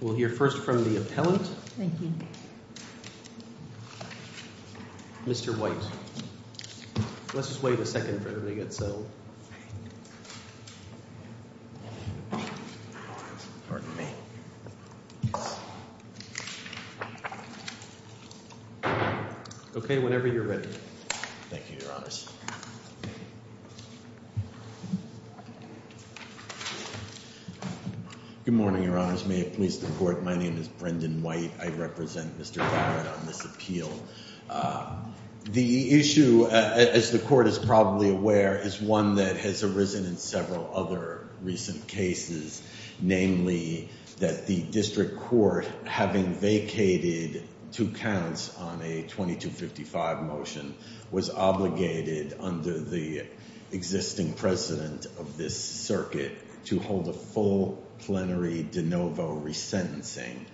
We'll hear first from the appellant, Mr. White. Let's just wait a second for everybody to get settled. Okay, whenever you're ready. Thank you, Your Honors. Good morning, Your Honors. May it please the Court, my name is Brendan White. The issue, as the Court is probably aware, is one that has arisen in several other recent cases. Namely, that the District Court, having vacated two counts on a 2255 motion, was obligated under the existing precedent of this circuit to hold a full plenary de novo resentencing.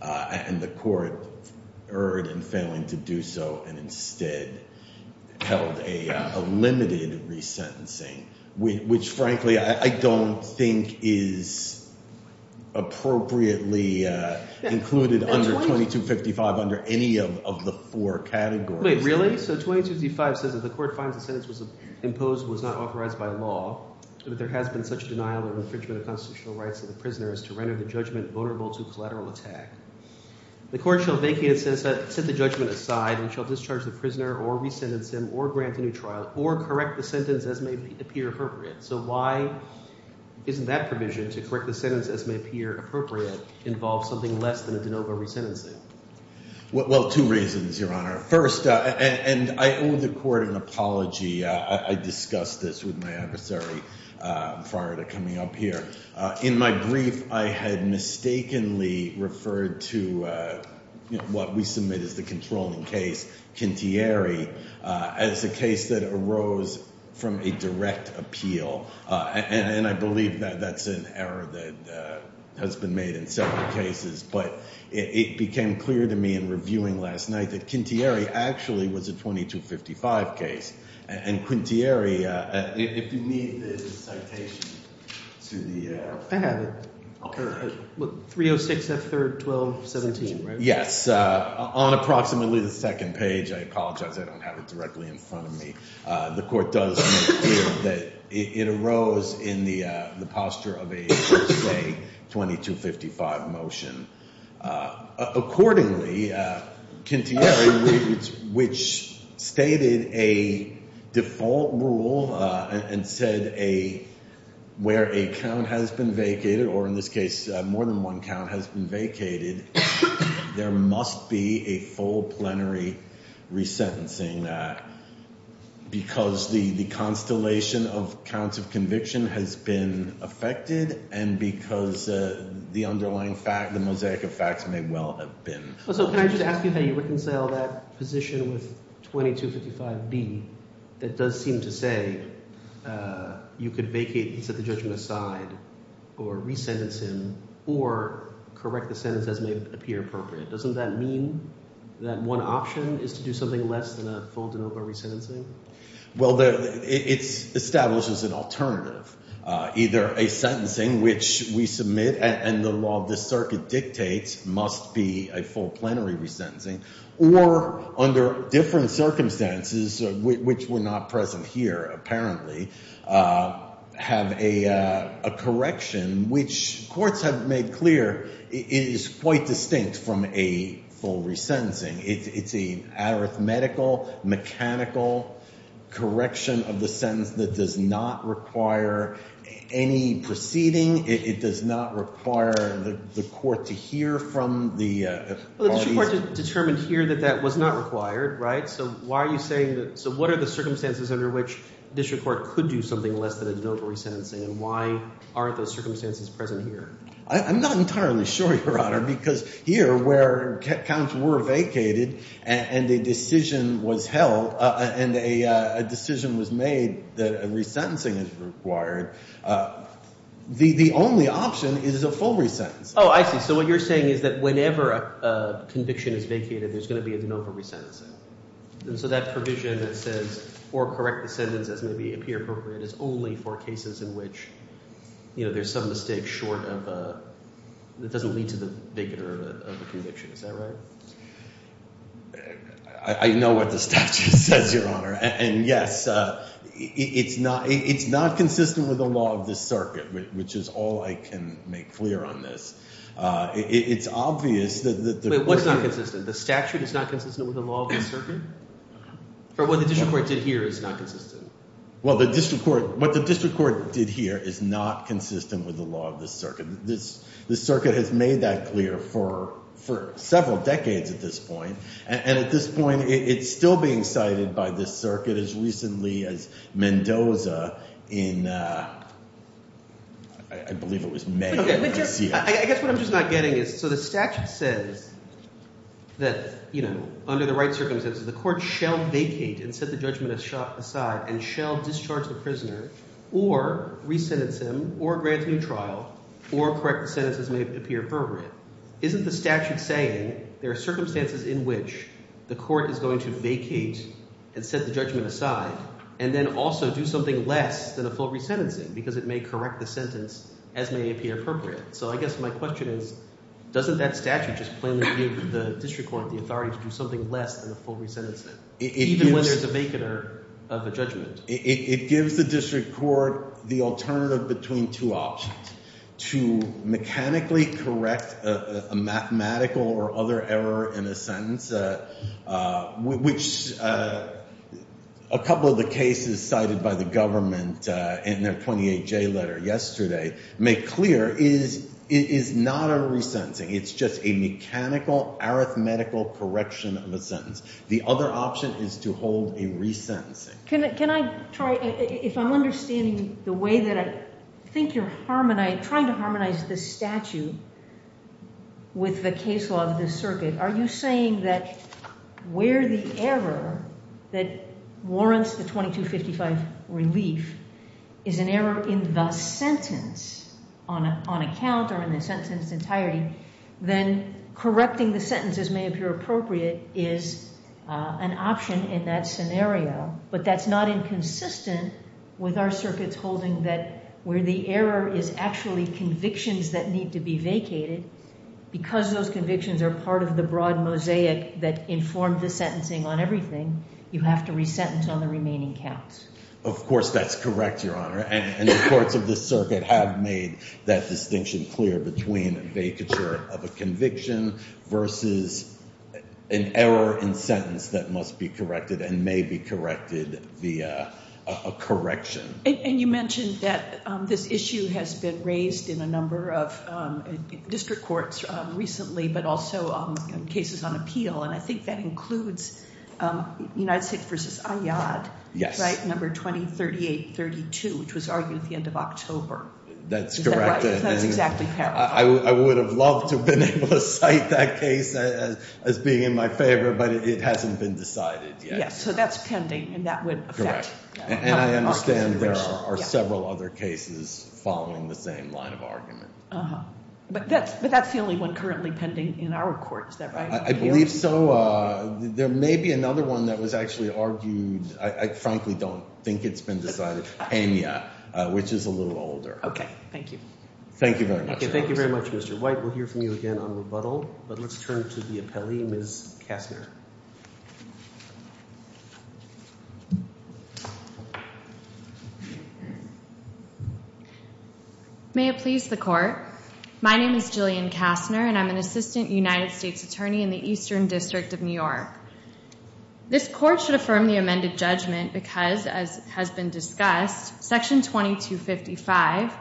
And the Court erred in failing to do so and instead held a limited resentencing, which frankly I don't think is appropriately included under 2255 under any of the four categories. Wait, really? So 2255 says that the Court finds the sentence was imposed was not authorized by law. But there has been such denial and infringement of constitutional rights of the prisoner as to render the judgment vulnerable to collateral attack. The Court shall vacate and set the judgment aside and shall discharge the prisoner or resentence him or grant a new trial or correct the sentence as may appear appropriate. So why isn't that provision, to correct the sentence as may appear appropriate, involve something less than a de novo resentencing? Well, two reasons, Your Honor. First, and I owe the Court an apology. I discussed this with my adversary prior to coming up here. In my brief, I had mistakenly referred to what we submit as the controlling case, Quintieri, as a case that arose from a direct appeal. And I believe that that's an error that has been made in several cases. But it became clear to me in reviewing last night that Quintieri actually was a 2255 case. And Quintieri, if you need the citation to the… I have it. 306F3-1217, right? Yes. On approximately the second page. I apologize. I don't have it directly in front of me. The Court does make clear that it arose in the posture of a, say, 2255 motion. Accordingly, Quintieri, which stated a default rule and said where a count has been vacated, or in this case, more than one count has been vacated, there must be a full plenary resentencing because the constellation of counts of conviction has been affected and because the underlying fact, the mosaic of facts may well have been. So can I just ask you how you reconcile that position with 2255B that does seem to say you could vacate and set the judgment aside or resentence him or correct the sentence as may appear appropriate? Doesn't that mean that one option is to do something less than a full de novo resentencing? Well, it establishes an alternative. Either a sentencing which we submit and the law of this circuit dictates must be a full plenary resentencing or under different circumstances, which were not present here apparently, have a correction which courts have made clear is quite distinct from a full resentencing. It's an arithmetical, mechanical correction of the sentence that does not require any proceeding. It does not require the court to hear from the parties. But the court determined here that that was not required, right? So why are you saying that – so what are the circumstances under which district court could do something less than a de novo resentencing and why aren't those circumstances present here? I'm not entirely sure, Your Honor, because here where counts were vacated and a decision was held and a decision was made that a resentencing is required, the only option is a full resentencing. Oh, I see. So what you're saying is that whenever a conviction is vacated, there's going to be a de novo resentencing. And so that provision that says or correct the sentence as may be appropriate is only for cases in which there's some mistake short of – that doesn't lead to the victor of the conviction. Is that right? I know what the statute says, Your Honor. And yes, it's not consistent with the law of this circuit, which is all I can make clear on this. It's obvious that the court – Wait. What's not consistent? The statute is not consistent with the law of this circuit? Or what the district court did here is not consistent? Well, the district court – what the district court did here is not consistent with the law of this circuit. This circuit has made that clear for several decades at this point. And at this point, it's still being cited by this circuit as recently as Mendoza in – I believe it was May. I guess what I'm just not getting is – so the statute says that under the right circumstances, the court shall vacate and set the judgment aside and shall discharge the prisoner or resentence him or grant a new trial or correct the sentence as may appear appropriate. Isn't the statute saying there are circumstances in which the court is going to vacate and set the judgment aside and then also do something less than a full resentencing because it may correct the sentence as may appear appropriate? So I guess my question is doesn't that statute just plainly give the district court the authority to do something less than a full resentencing, even when there's a vacater of a judgment? It gives the district court the alternative between two options, to mechanically correct a mathematical or other error in a sentence, which a couple of the cases cited by the government in their 28J letter yesterday make clear is not a resentencing. It's just a mechanical, arithmetical correction of a sentence. The other option is to hold a resentencing. Can I try – if I'm understanding the way that I think you're harmonizing – trying to harmonize the statute with the case law of this circuit, are you saying that where the error that warrants the 2255 relief is an error in the sentence on account or in the sentence entirety, then correcting the sentence as may appear appropriate is an option in that scenario, but that's not inconsistent with our circuits holding that where the error is actually convictions that need to be vacated, because those convictions are part of the broad mosaic that informed the sentencing on everything, you have to resentence on the remaining counts? Of course that's correct, Your Honor, and the courts of this circuit have made that distinction clear between vacature of a conviction versus an error in sentence that must be corrected and may be corrected via a correction. And you mentioned that this issue has been raised in a number of district courts recently, but also in cases on appeal, and I think that includes United States v. Iyad, right, number 203832, which was argued at the end of October. That's correct. Is that right? That's exactly correct. I would have loved to have been able to cite that case as being in my favor, but it hasn't been decided yet. Yes, so that's pending, and that would affect – Correct, and I understand there are several other cases following the same line of argument. But that's the only one currently pending in our court, is that right? I believe so. There may be another one that was actually argued. I frankly don't think it's been decided. Kenya, which is a little older. Okay. Thank you. Thank you very much. Thank you very much, Mr. White. We'll hear from you again on rebuttal, but let's turn to the appellee, Ms. Kastner. May it please the Court. My name is Jillian Kastner, and I'm an assistant United States attorney in the Eastern District of New York. This Court should affirm the amended judgment because, as has been discussed, Section 2255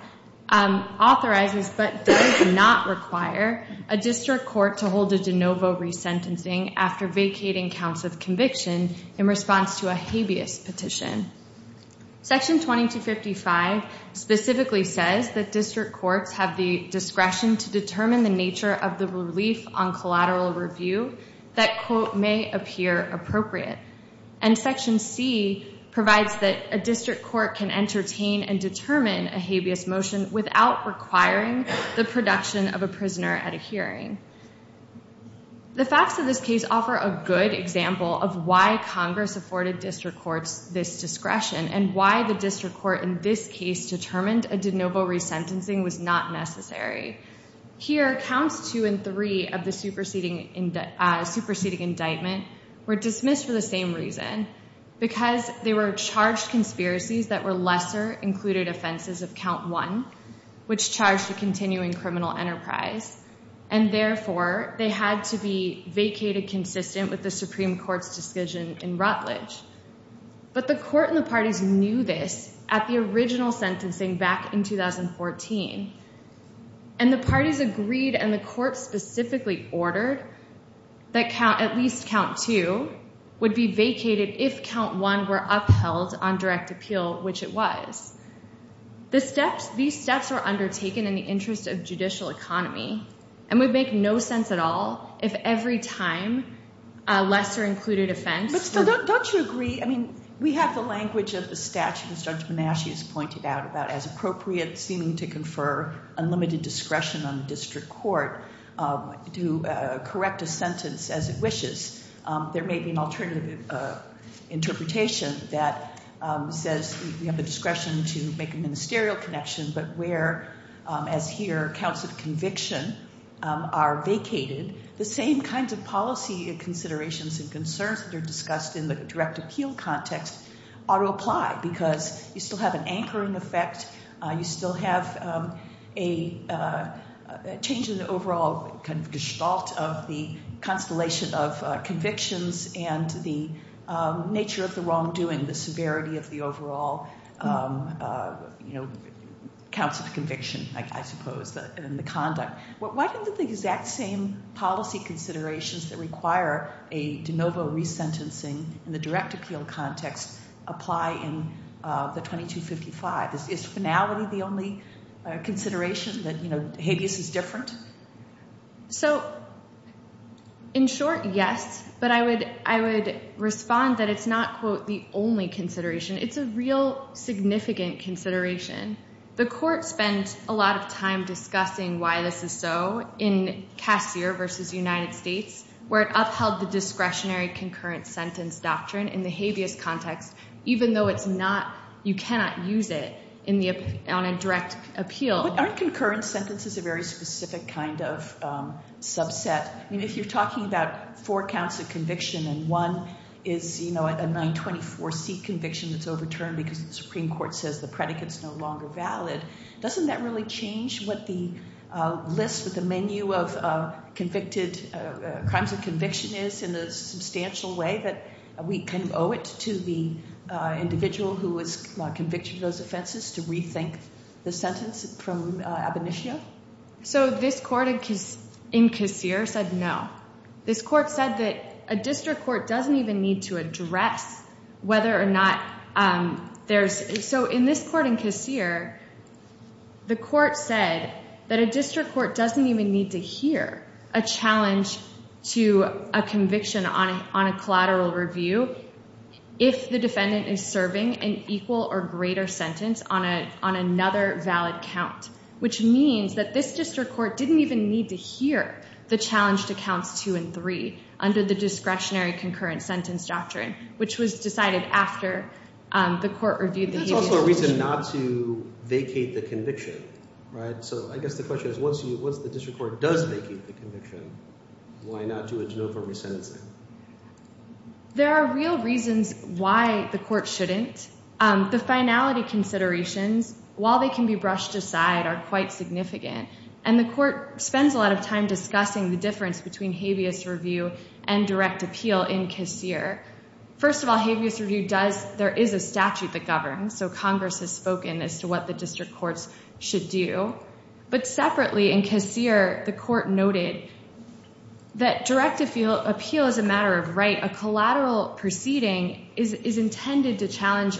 authorizes but does not require a district court to hold a de novo resentencing after vacating counts of conviction in response to a habeas petition. Section 2255 specifically says that district courts have the discretion to determine the nature of the relief on collateral review that, quote, may appear appropriate. And Section C provides that a district court can entertain and determine a habeas motion without requiring the production of a prisoner at a hearing. The facts of this case offer a good example of why Congress afforded district courts this discretion and why the district court in this case determined a de novo resentencing was not necessary. Here, counts two and three of the superseding indictment were dismissed for the same reason, because they were charged conspiracies that were lesser included offenses of count one, which charged a continuing criminal enterprise. And therefore, they had to be vacated consistent with the Supreme Court's decision in Rutledge. But the Court and the parties knew this at the original sentencing back in 2014, and the parties agreed and the Court specifically ordered that at least count two would be vacated if count one were upheld on direct appeal, which it was. These steps were undertaken in the interest of judicial economy, and would make no sense at all if every time a lesser included offense were- But still, don't you agree? I mean, we have the language of the statute, as Judge Menachie has pointed out, about as appropriate seeming to confer unlimited discretion on the district court to correct a sentence as it wishes. There may be an alternative interpretation that says we have the discretion to make a ministerial connection, but where, as here, counts of conviction are vacated, the same kinds of policy considerations and concerns that are discussed in the direct appeal context ought to apply, because you still have an anchoring effect, you still have a change in the overall kind of gestalt of the constellation of convictions and the nature of the wrongdoing, the severity of the overall counts of conviction, I suppose, and the conduct. Why don't the exact same policy considerations that require a de novo resentencing in the direct appeal context apply in the 2255? Is finality the only consideration that habeas is different? So, in short, yes, but I would respond that it's not, quote, the only consideration. It's a real significant consideration. The court spent a lot of time discussing why this is so in Cassier v. United States, where it upheld the discretionary concurrent sentence doctrine in the habeas context, even though it's not, you cannot use it on a direct appeal. But aren't concurrent sentences a very specific kind of subset? I mean, if you're talking about four counts of conviction and one is, you know, a 924C conviction that's overturned because the Supreme Court says the predicate's no longer valid, doesn't that really change what the list, what the menu of convicted crimes of conviction is in a substantial way that we can owe it to the individual who was convicted of those offenses to rethink the sentence from ab initio? So this court in Cassier said no. This court said that a district court doesn't even need to address whether or not there's, so in this court in Cassier, the court said that a district court doesn't even need to hear a challenge to a conviction on a collateral review if the defendant is serving an equal or greater sentence on another valid count, which means that this district court didn't even need to hear the challenge to counts two and three under the discretionary concurrent sentence doctrine, which was decided after the court reviewed the habeas. There's also a reason not to vacate the conviction, right? So I guess the question is, once the district court does vacate the conviction, why not do a juror for resentencing? There are real reasons why the court shouldn't. The finality considerations, while they can be brushed aside, are quite significant, and the court spends a lot of time discussing the difference between habeas review and direct appeal in Cassier. First of all, habeas review does, there is a statute that governs, so Congress has spoken as to what the district courts should do. But separately in Cassier, the court noted that direct appeal is a matter of right. A collateral proceeding is intended to challenge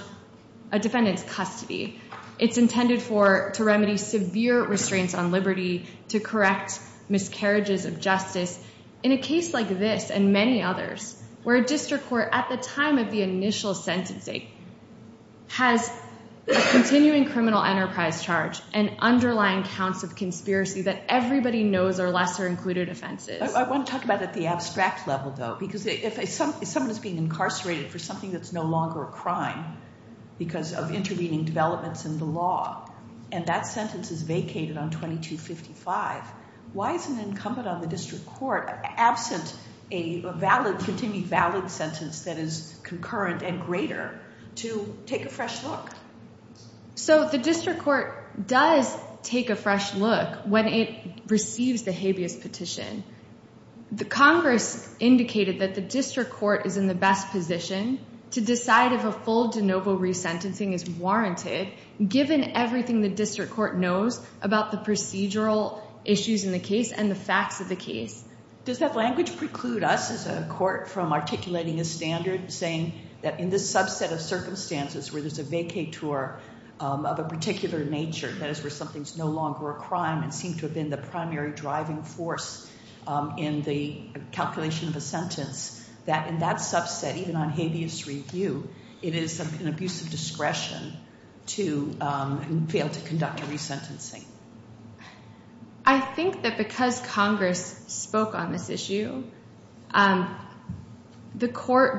a defendant's custody. It's intended to remedy severe restraints on liberty, to correct miscarriages of justice. In a case like this and many others where a district court, at the time of the initial sentencing, has a continuing criminal enterprise charge and underlying counts of conspiracy that everybody knows are lesser included offenses. I want to talk about it at the abstract level, though, because if someone is being incarcerated for something that's no longer a crime because of intervening developments in the law, and that sentence is vacated on 2255, why is an incumbent on the district court, absent a valid, that is concurrent and greater, to take a fresh look? So the district court does take a fresh look when it receives the habeas petition. The Congress indicated that the district court is in the best position to decide if a full de novo resentencing is warranted, given everything the district court knows about the procedural issues in the case and the facts of the case. Does that language preclude us as a court from articulating a standard, saying that in this subset of circumstances where there's a vacator of a particular nature, that is where something's no longer a crime and seemed to have been the primary driving force in the calculation of a sentence, that in that subset, even on habeas review, it is an abuse of discretion to fail to conduct a resentencing? I think that because Congress spoke on this issue, the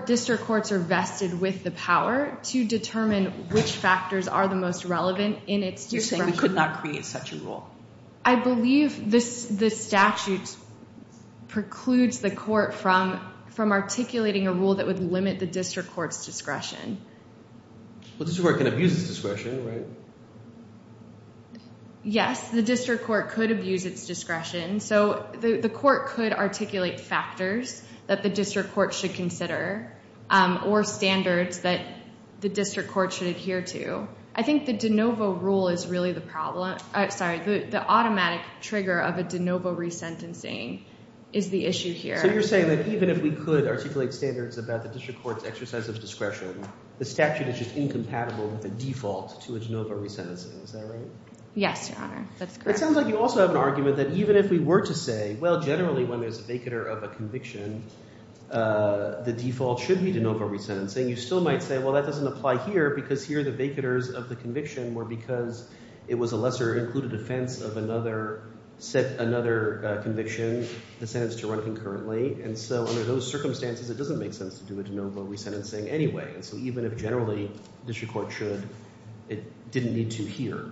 district courts are vested with the power to determine which factors are the most relevant in its discretion. You're saying we could not create such a rule? I believe the statute precludes the court from articulating a rule that would limit the district court's discretion. The district court can abuse its discretion, right? Yes, the district court could abuse its discretion. So the court could articulate factors that the district court should consider or standards that the district court should adhere to. I think the de novo rule is really the problem. Sorry, the automatic trigger of a de novo resentencing is the issue here. So you're saying that even if we could articulate standards about the district court's exercise of discretion, the statute is just incompatible with the default to a de novo resentencing. Is that right? Yes, Your Honor. That's correct. It sounds like you also have an argument that even if we were to say, well, generally when there's a vacatur of a conviction, the default should be de novo resentencing, you still might say, well, that doesn't apply here because here the vacaturs of the conviction were because it was a lesser included offense of another conviction, the sentence to run concurrently. And so under those circumstances, it doesn't make sense to do a de novo resentencing anyway. So even if generally the district court should, it didn't need to here.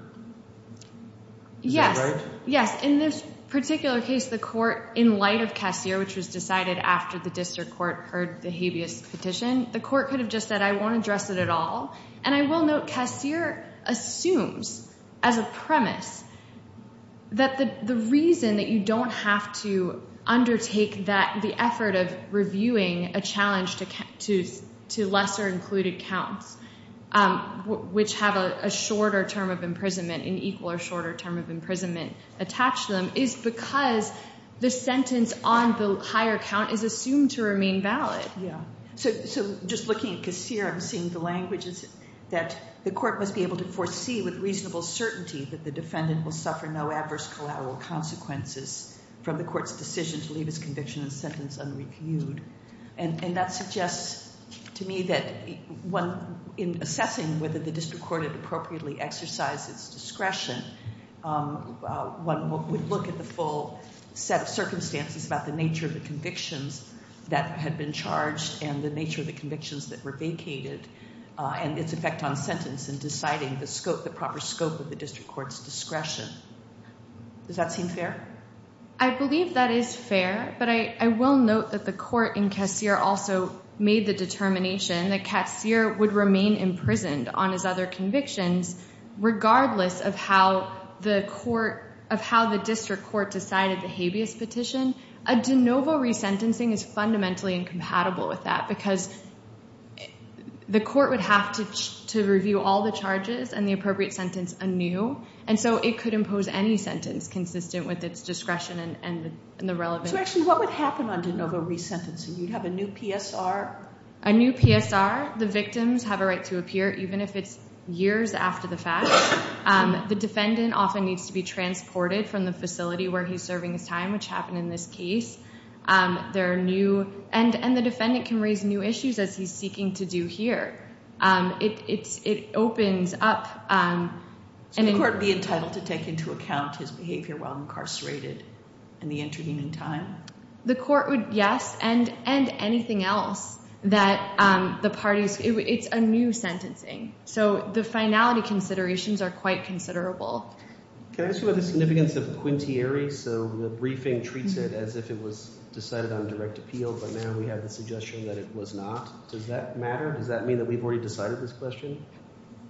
Yes. Is that right? Yes. In this particular case, the court, in light of Cassir, which was decided after the district court heard the habeas petition, the court could have just said, I won't address it at all. And I will note Cassir assumes as a premise that the reason that you don't have to the effort of reviewing a challenge to lesser included counts, which have a shorter term of imprisonment, an equal or shorter term of imprisonment attached to them, is because the sentence on the higher count is assumed to remain valid. So just looking at Cassir and seeing the languages, that the court must be able to foresee with reasonable certainty that the defendant will suffer no adverse collateral consequences from the court's decision to leave his conviction and sentence unreviewed. And that suggests to me that in assessing whether the district court had appropriately exercised its discretion, one would look at the full set of circumstances about the nature of the convictions that had been charged and the nature of the convictions that were vacated and its effect on sentence in deciding the proper scope of the district court's discretion. Does that seem fair? I believe that is fair. But I will note that the court in Cassir also made the determination that Cassir would remain imprisoned on his other convictions regardless of how the district court decided the habeas petition. A de novo resentencing is fundamentally incompatible with that because the court would have to review all the charges and the appropriate sentence anew. And so it could impose any sentence consistent with its discretion and the relevance. So actually what would happen on de novo resentencing? You'd have a new PSR? A new PSR. The victims have a right to appear even if it's years after the fact. The defendant often needs to be transported from the facility where he's serving his time, which happened in this case. And the defendant can raise new issues as he's seeking to do here. It opens up. Should the court be entitled to take into account his behavior while incarcerated and the intervening time? The court would, yes, and anything else that the parties. It's a new sentencing. So the finality considerations are quite considerable. Can I ask you about the significance of quintieri? So the briefing treats it as if it was decided on direct appeal, but now we have the suggestion that it was not. Does that matter? Does that mean that we've already decided this question?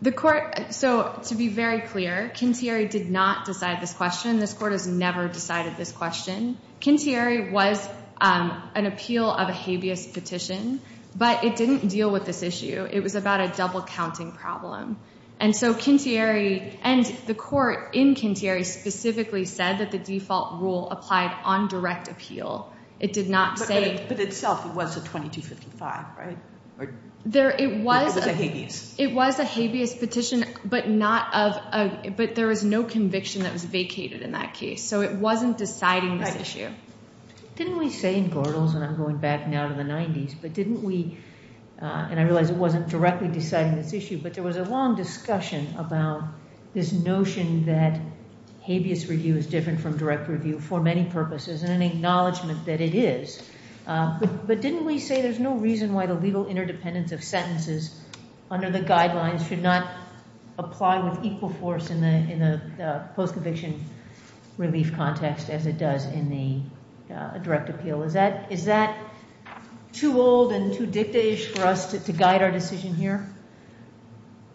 The court, so to be very clear, quintieri did not decide this question. This court has never decided this question. Quintieri was an appeal of a habeas petition, but it didn't deal with this issue. It was about a double-counting problem. And so quintieri, and the court in quintieri specifically said that the default rule applied on direct appeal. But itself it was a 2255, right? It was a habeas. It was a habeas petition, but there was no conviction that was vacated in that case. So it wasn't deciding this issue. Didn't we say in Gordles, and I'm going back now to the 90s, but didn't we, and I realize it wasn't directly deciding this issue, but there was a long discussion about this notion that habeas review is an acknowledgement that it is. But didn't we say there's no reason why the legal interdependence of sentences under the guidelines should not apply with equal force in the post-conviction relief context as it does in the direct appeal? Is that too old and too dictish for us to guide our decision here?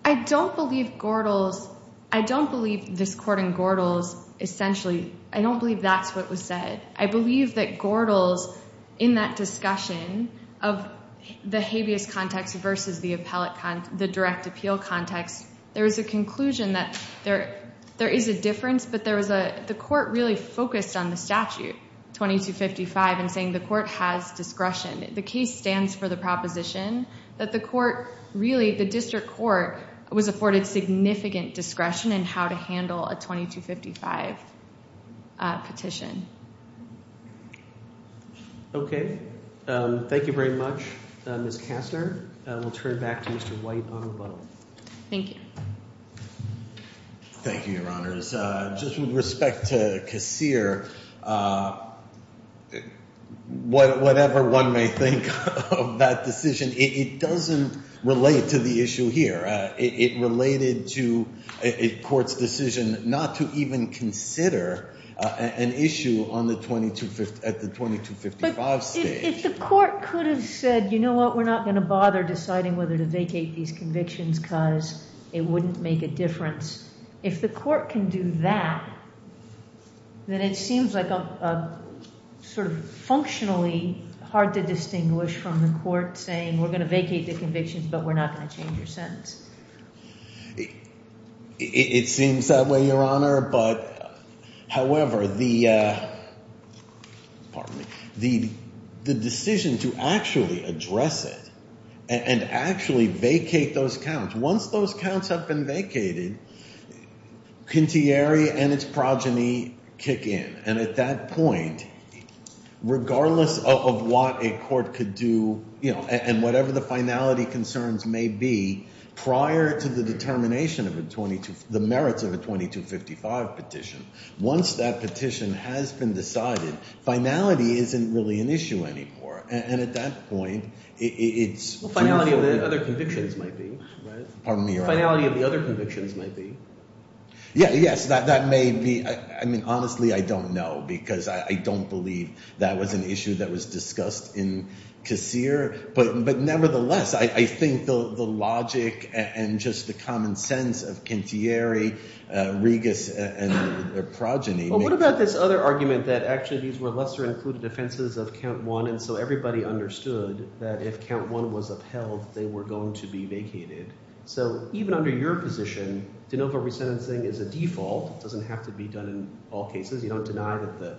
I don't believe Gordles, I don't believe this court in Gordles essentially, I don't believe that's what was said. I believe that Gordles in that discussion of the habeas context versus the appellate context, the direct appeal context, there was a conclusion that there is a difference, but the court really focused on the statute, 2255, and saying the court has discretion. The case stands for the proposition that the court really, the district court, was afforded significant discretion in how to handle a 2255 petition. Okay. Thank you very much, Ms. Kastner. We'll turn it back to Mr. White on rebuttal. Thank you. Thank you, Your Honors. Just with respect to Kassir, whatever one may think of that decision, it doesn't relate to the issue here. It related to a court's decision not to even consider an issue at the 2255 stage. But if the court could have said, you know what, we're not going to bother deciding whether to vacate these convictions because it wouldn't make a difference, if the court can do that, then it seems like sort of functionally hard to distinguish from the court saying we're going to vacate the convictions, but we're not going to change your sentence. It seems that way, Your Honor. However, the decision to actually address it and actually vacate those counts, once those counts have been vacated, Kintieri and its progeny kick in. And at that point, regardless of what a court could do and whatever the finality concerns may be, prior to the merits of a 2255 petition, once that petition has been decided, finality isn't really an issue anymore. And at that point, it's— Finality of the other convictions might be, right? Pardon me, Your Honor. Finality of the other convictions might be. Yeah, yes. That may be. I mean, honestly, I don't know because I don't believe that was an issue that was discussed in Kassir. But nevertheless, I think the logic and just the common sense of Kintieri, Regas, and their progeny— Well, what about this other argument that actually these were lesser-included offenses of count one, and so everybody understood that if count one was upheld, they were going to be vacated. So even under your position, de novo resentencing is a default. It doesn't have to be done in all cases. You don't deny that the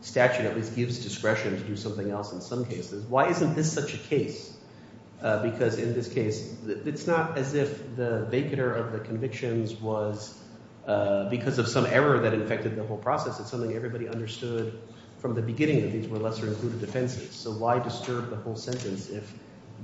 statute at least gives discretion to do something else in some cases. Why isn't this such a case? Because in this case, it's not as if the vacater of the convictions was because of some error that affected the whole process. It's something everybody understood from the beginning that these were lesser-included offenses. So why disturb the whole sentence if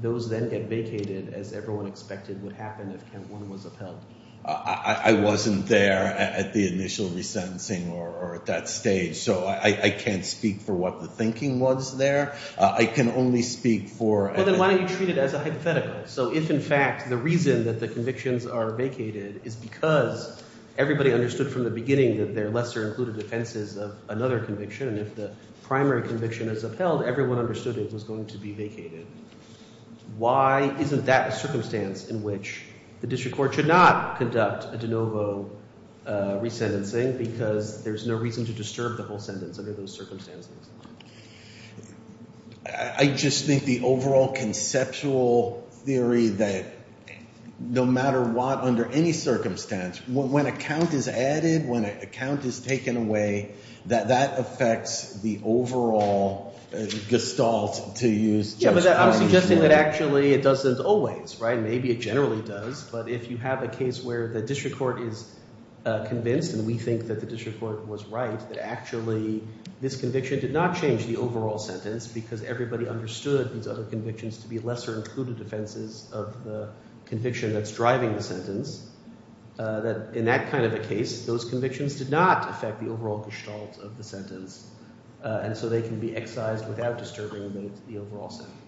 those then get vacated as everyone expected would happen if count one was upheld? I wasn't there at the initial resentencing or at that stage, so I can't speak for what the thinking was there. I can only speak for— Well, then why don't you treat it as a hypothetical? So if, in fact, the reason that the convictions are vacated is because everybody understood from the beginning that they're lesser-included offenses of another conviction, and if the primary conviction is upheld, everyone understood it was going to be vacated, why isn't that a circumstance in which the district court should not conduct a de novo resentencing because there's no reason to disturb the whole sentence under those circumstances? I just think the overall conceptual theory that no matter what, under any circumstance, when a count is added, when a count is taken away, that that affects the overall gestalt to use— Yeah, but I'm suggesting that actually it doesn't always, right? Maybe it generally does, but if you have a case where the district court is convinced, and we think that the district court was right, that actually this conviction did not change the overall sentence because everybody understood these other convictions to be lesser-included offenses of the conviction that's driving the sentence, that in that kind of a case, those convictions did not affect the overall gestalt of the sentence, and so they can be excised without disturbing the overall sentence.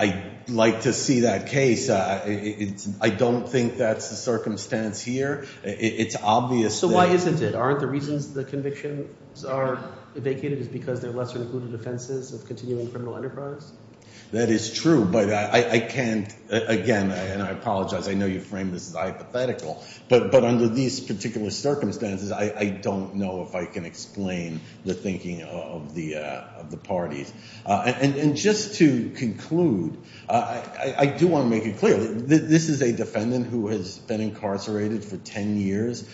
I'd like to see that case. I don't think that's the circumstance here. It's obvious that— So why isn't it? Aren't the reasons the convictions are vacated is because they're lesser-included offenses of continuing criminal enterprise? That is true, but I can't— Again, and I apologize, I know you framed this as hypothetical, but under these particular circumstances, I don't know if I can explain the thinking of the parties. And just to conclude, I do want to make it clear that this is a defendant who has been incarcerated for 10 years.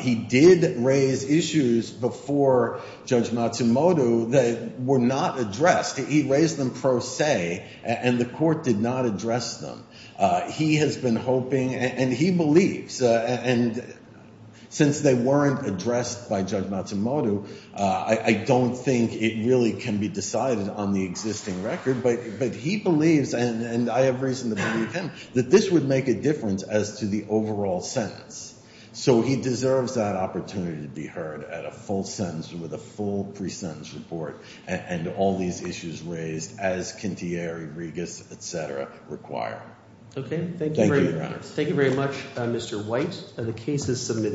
He did raise issues before Judge Matsumoto that were not addressed. He raised them pro se, and the court did not address them. He has been hoping, and he believes, and since they weren't addressed by Judge Matsumoto, I don't think it really can be decided on the existing record, but he believes, and I have reason to believe him, that this would make a difference as to the overall sentence. So he deserves that opportunity to be heard at a full sentence with a full pre-sentence report and all these issues raised as Kintyere, Regas, et cetera, require. Okay, thank you very much. Thank you, Your Honor. The case is submitted.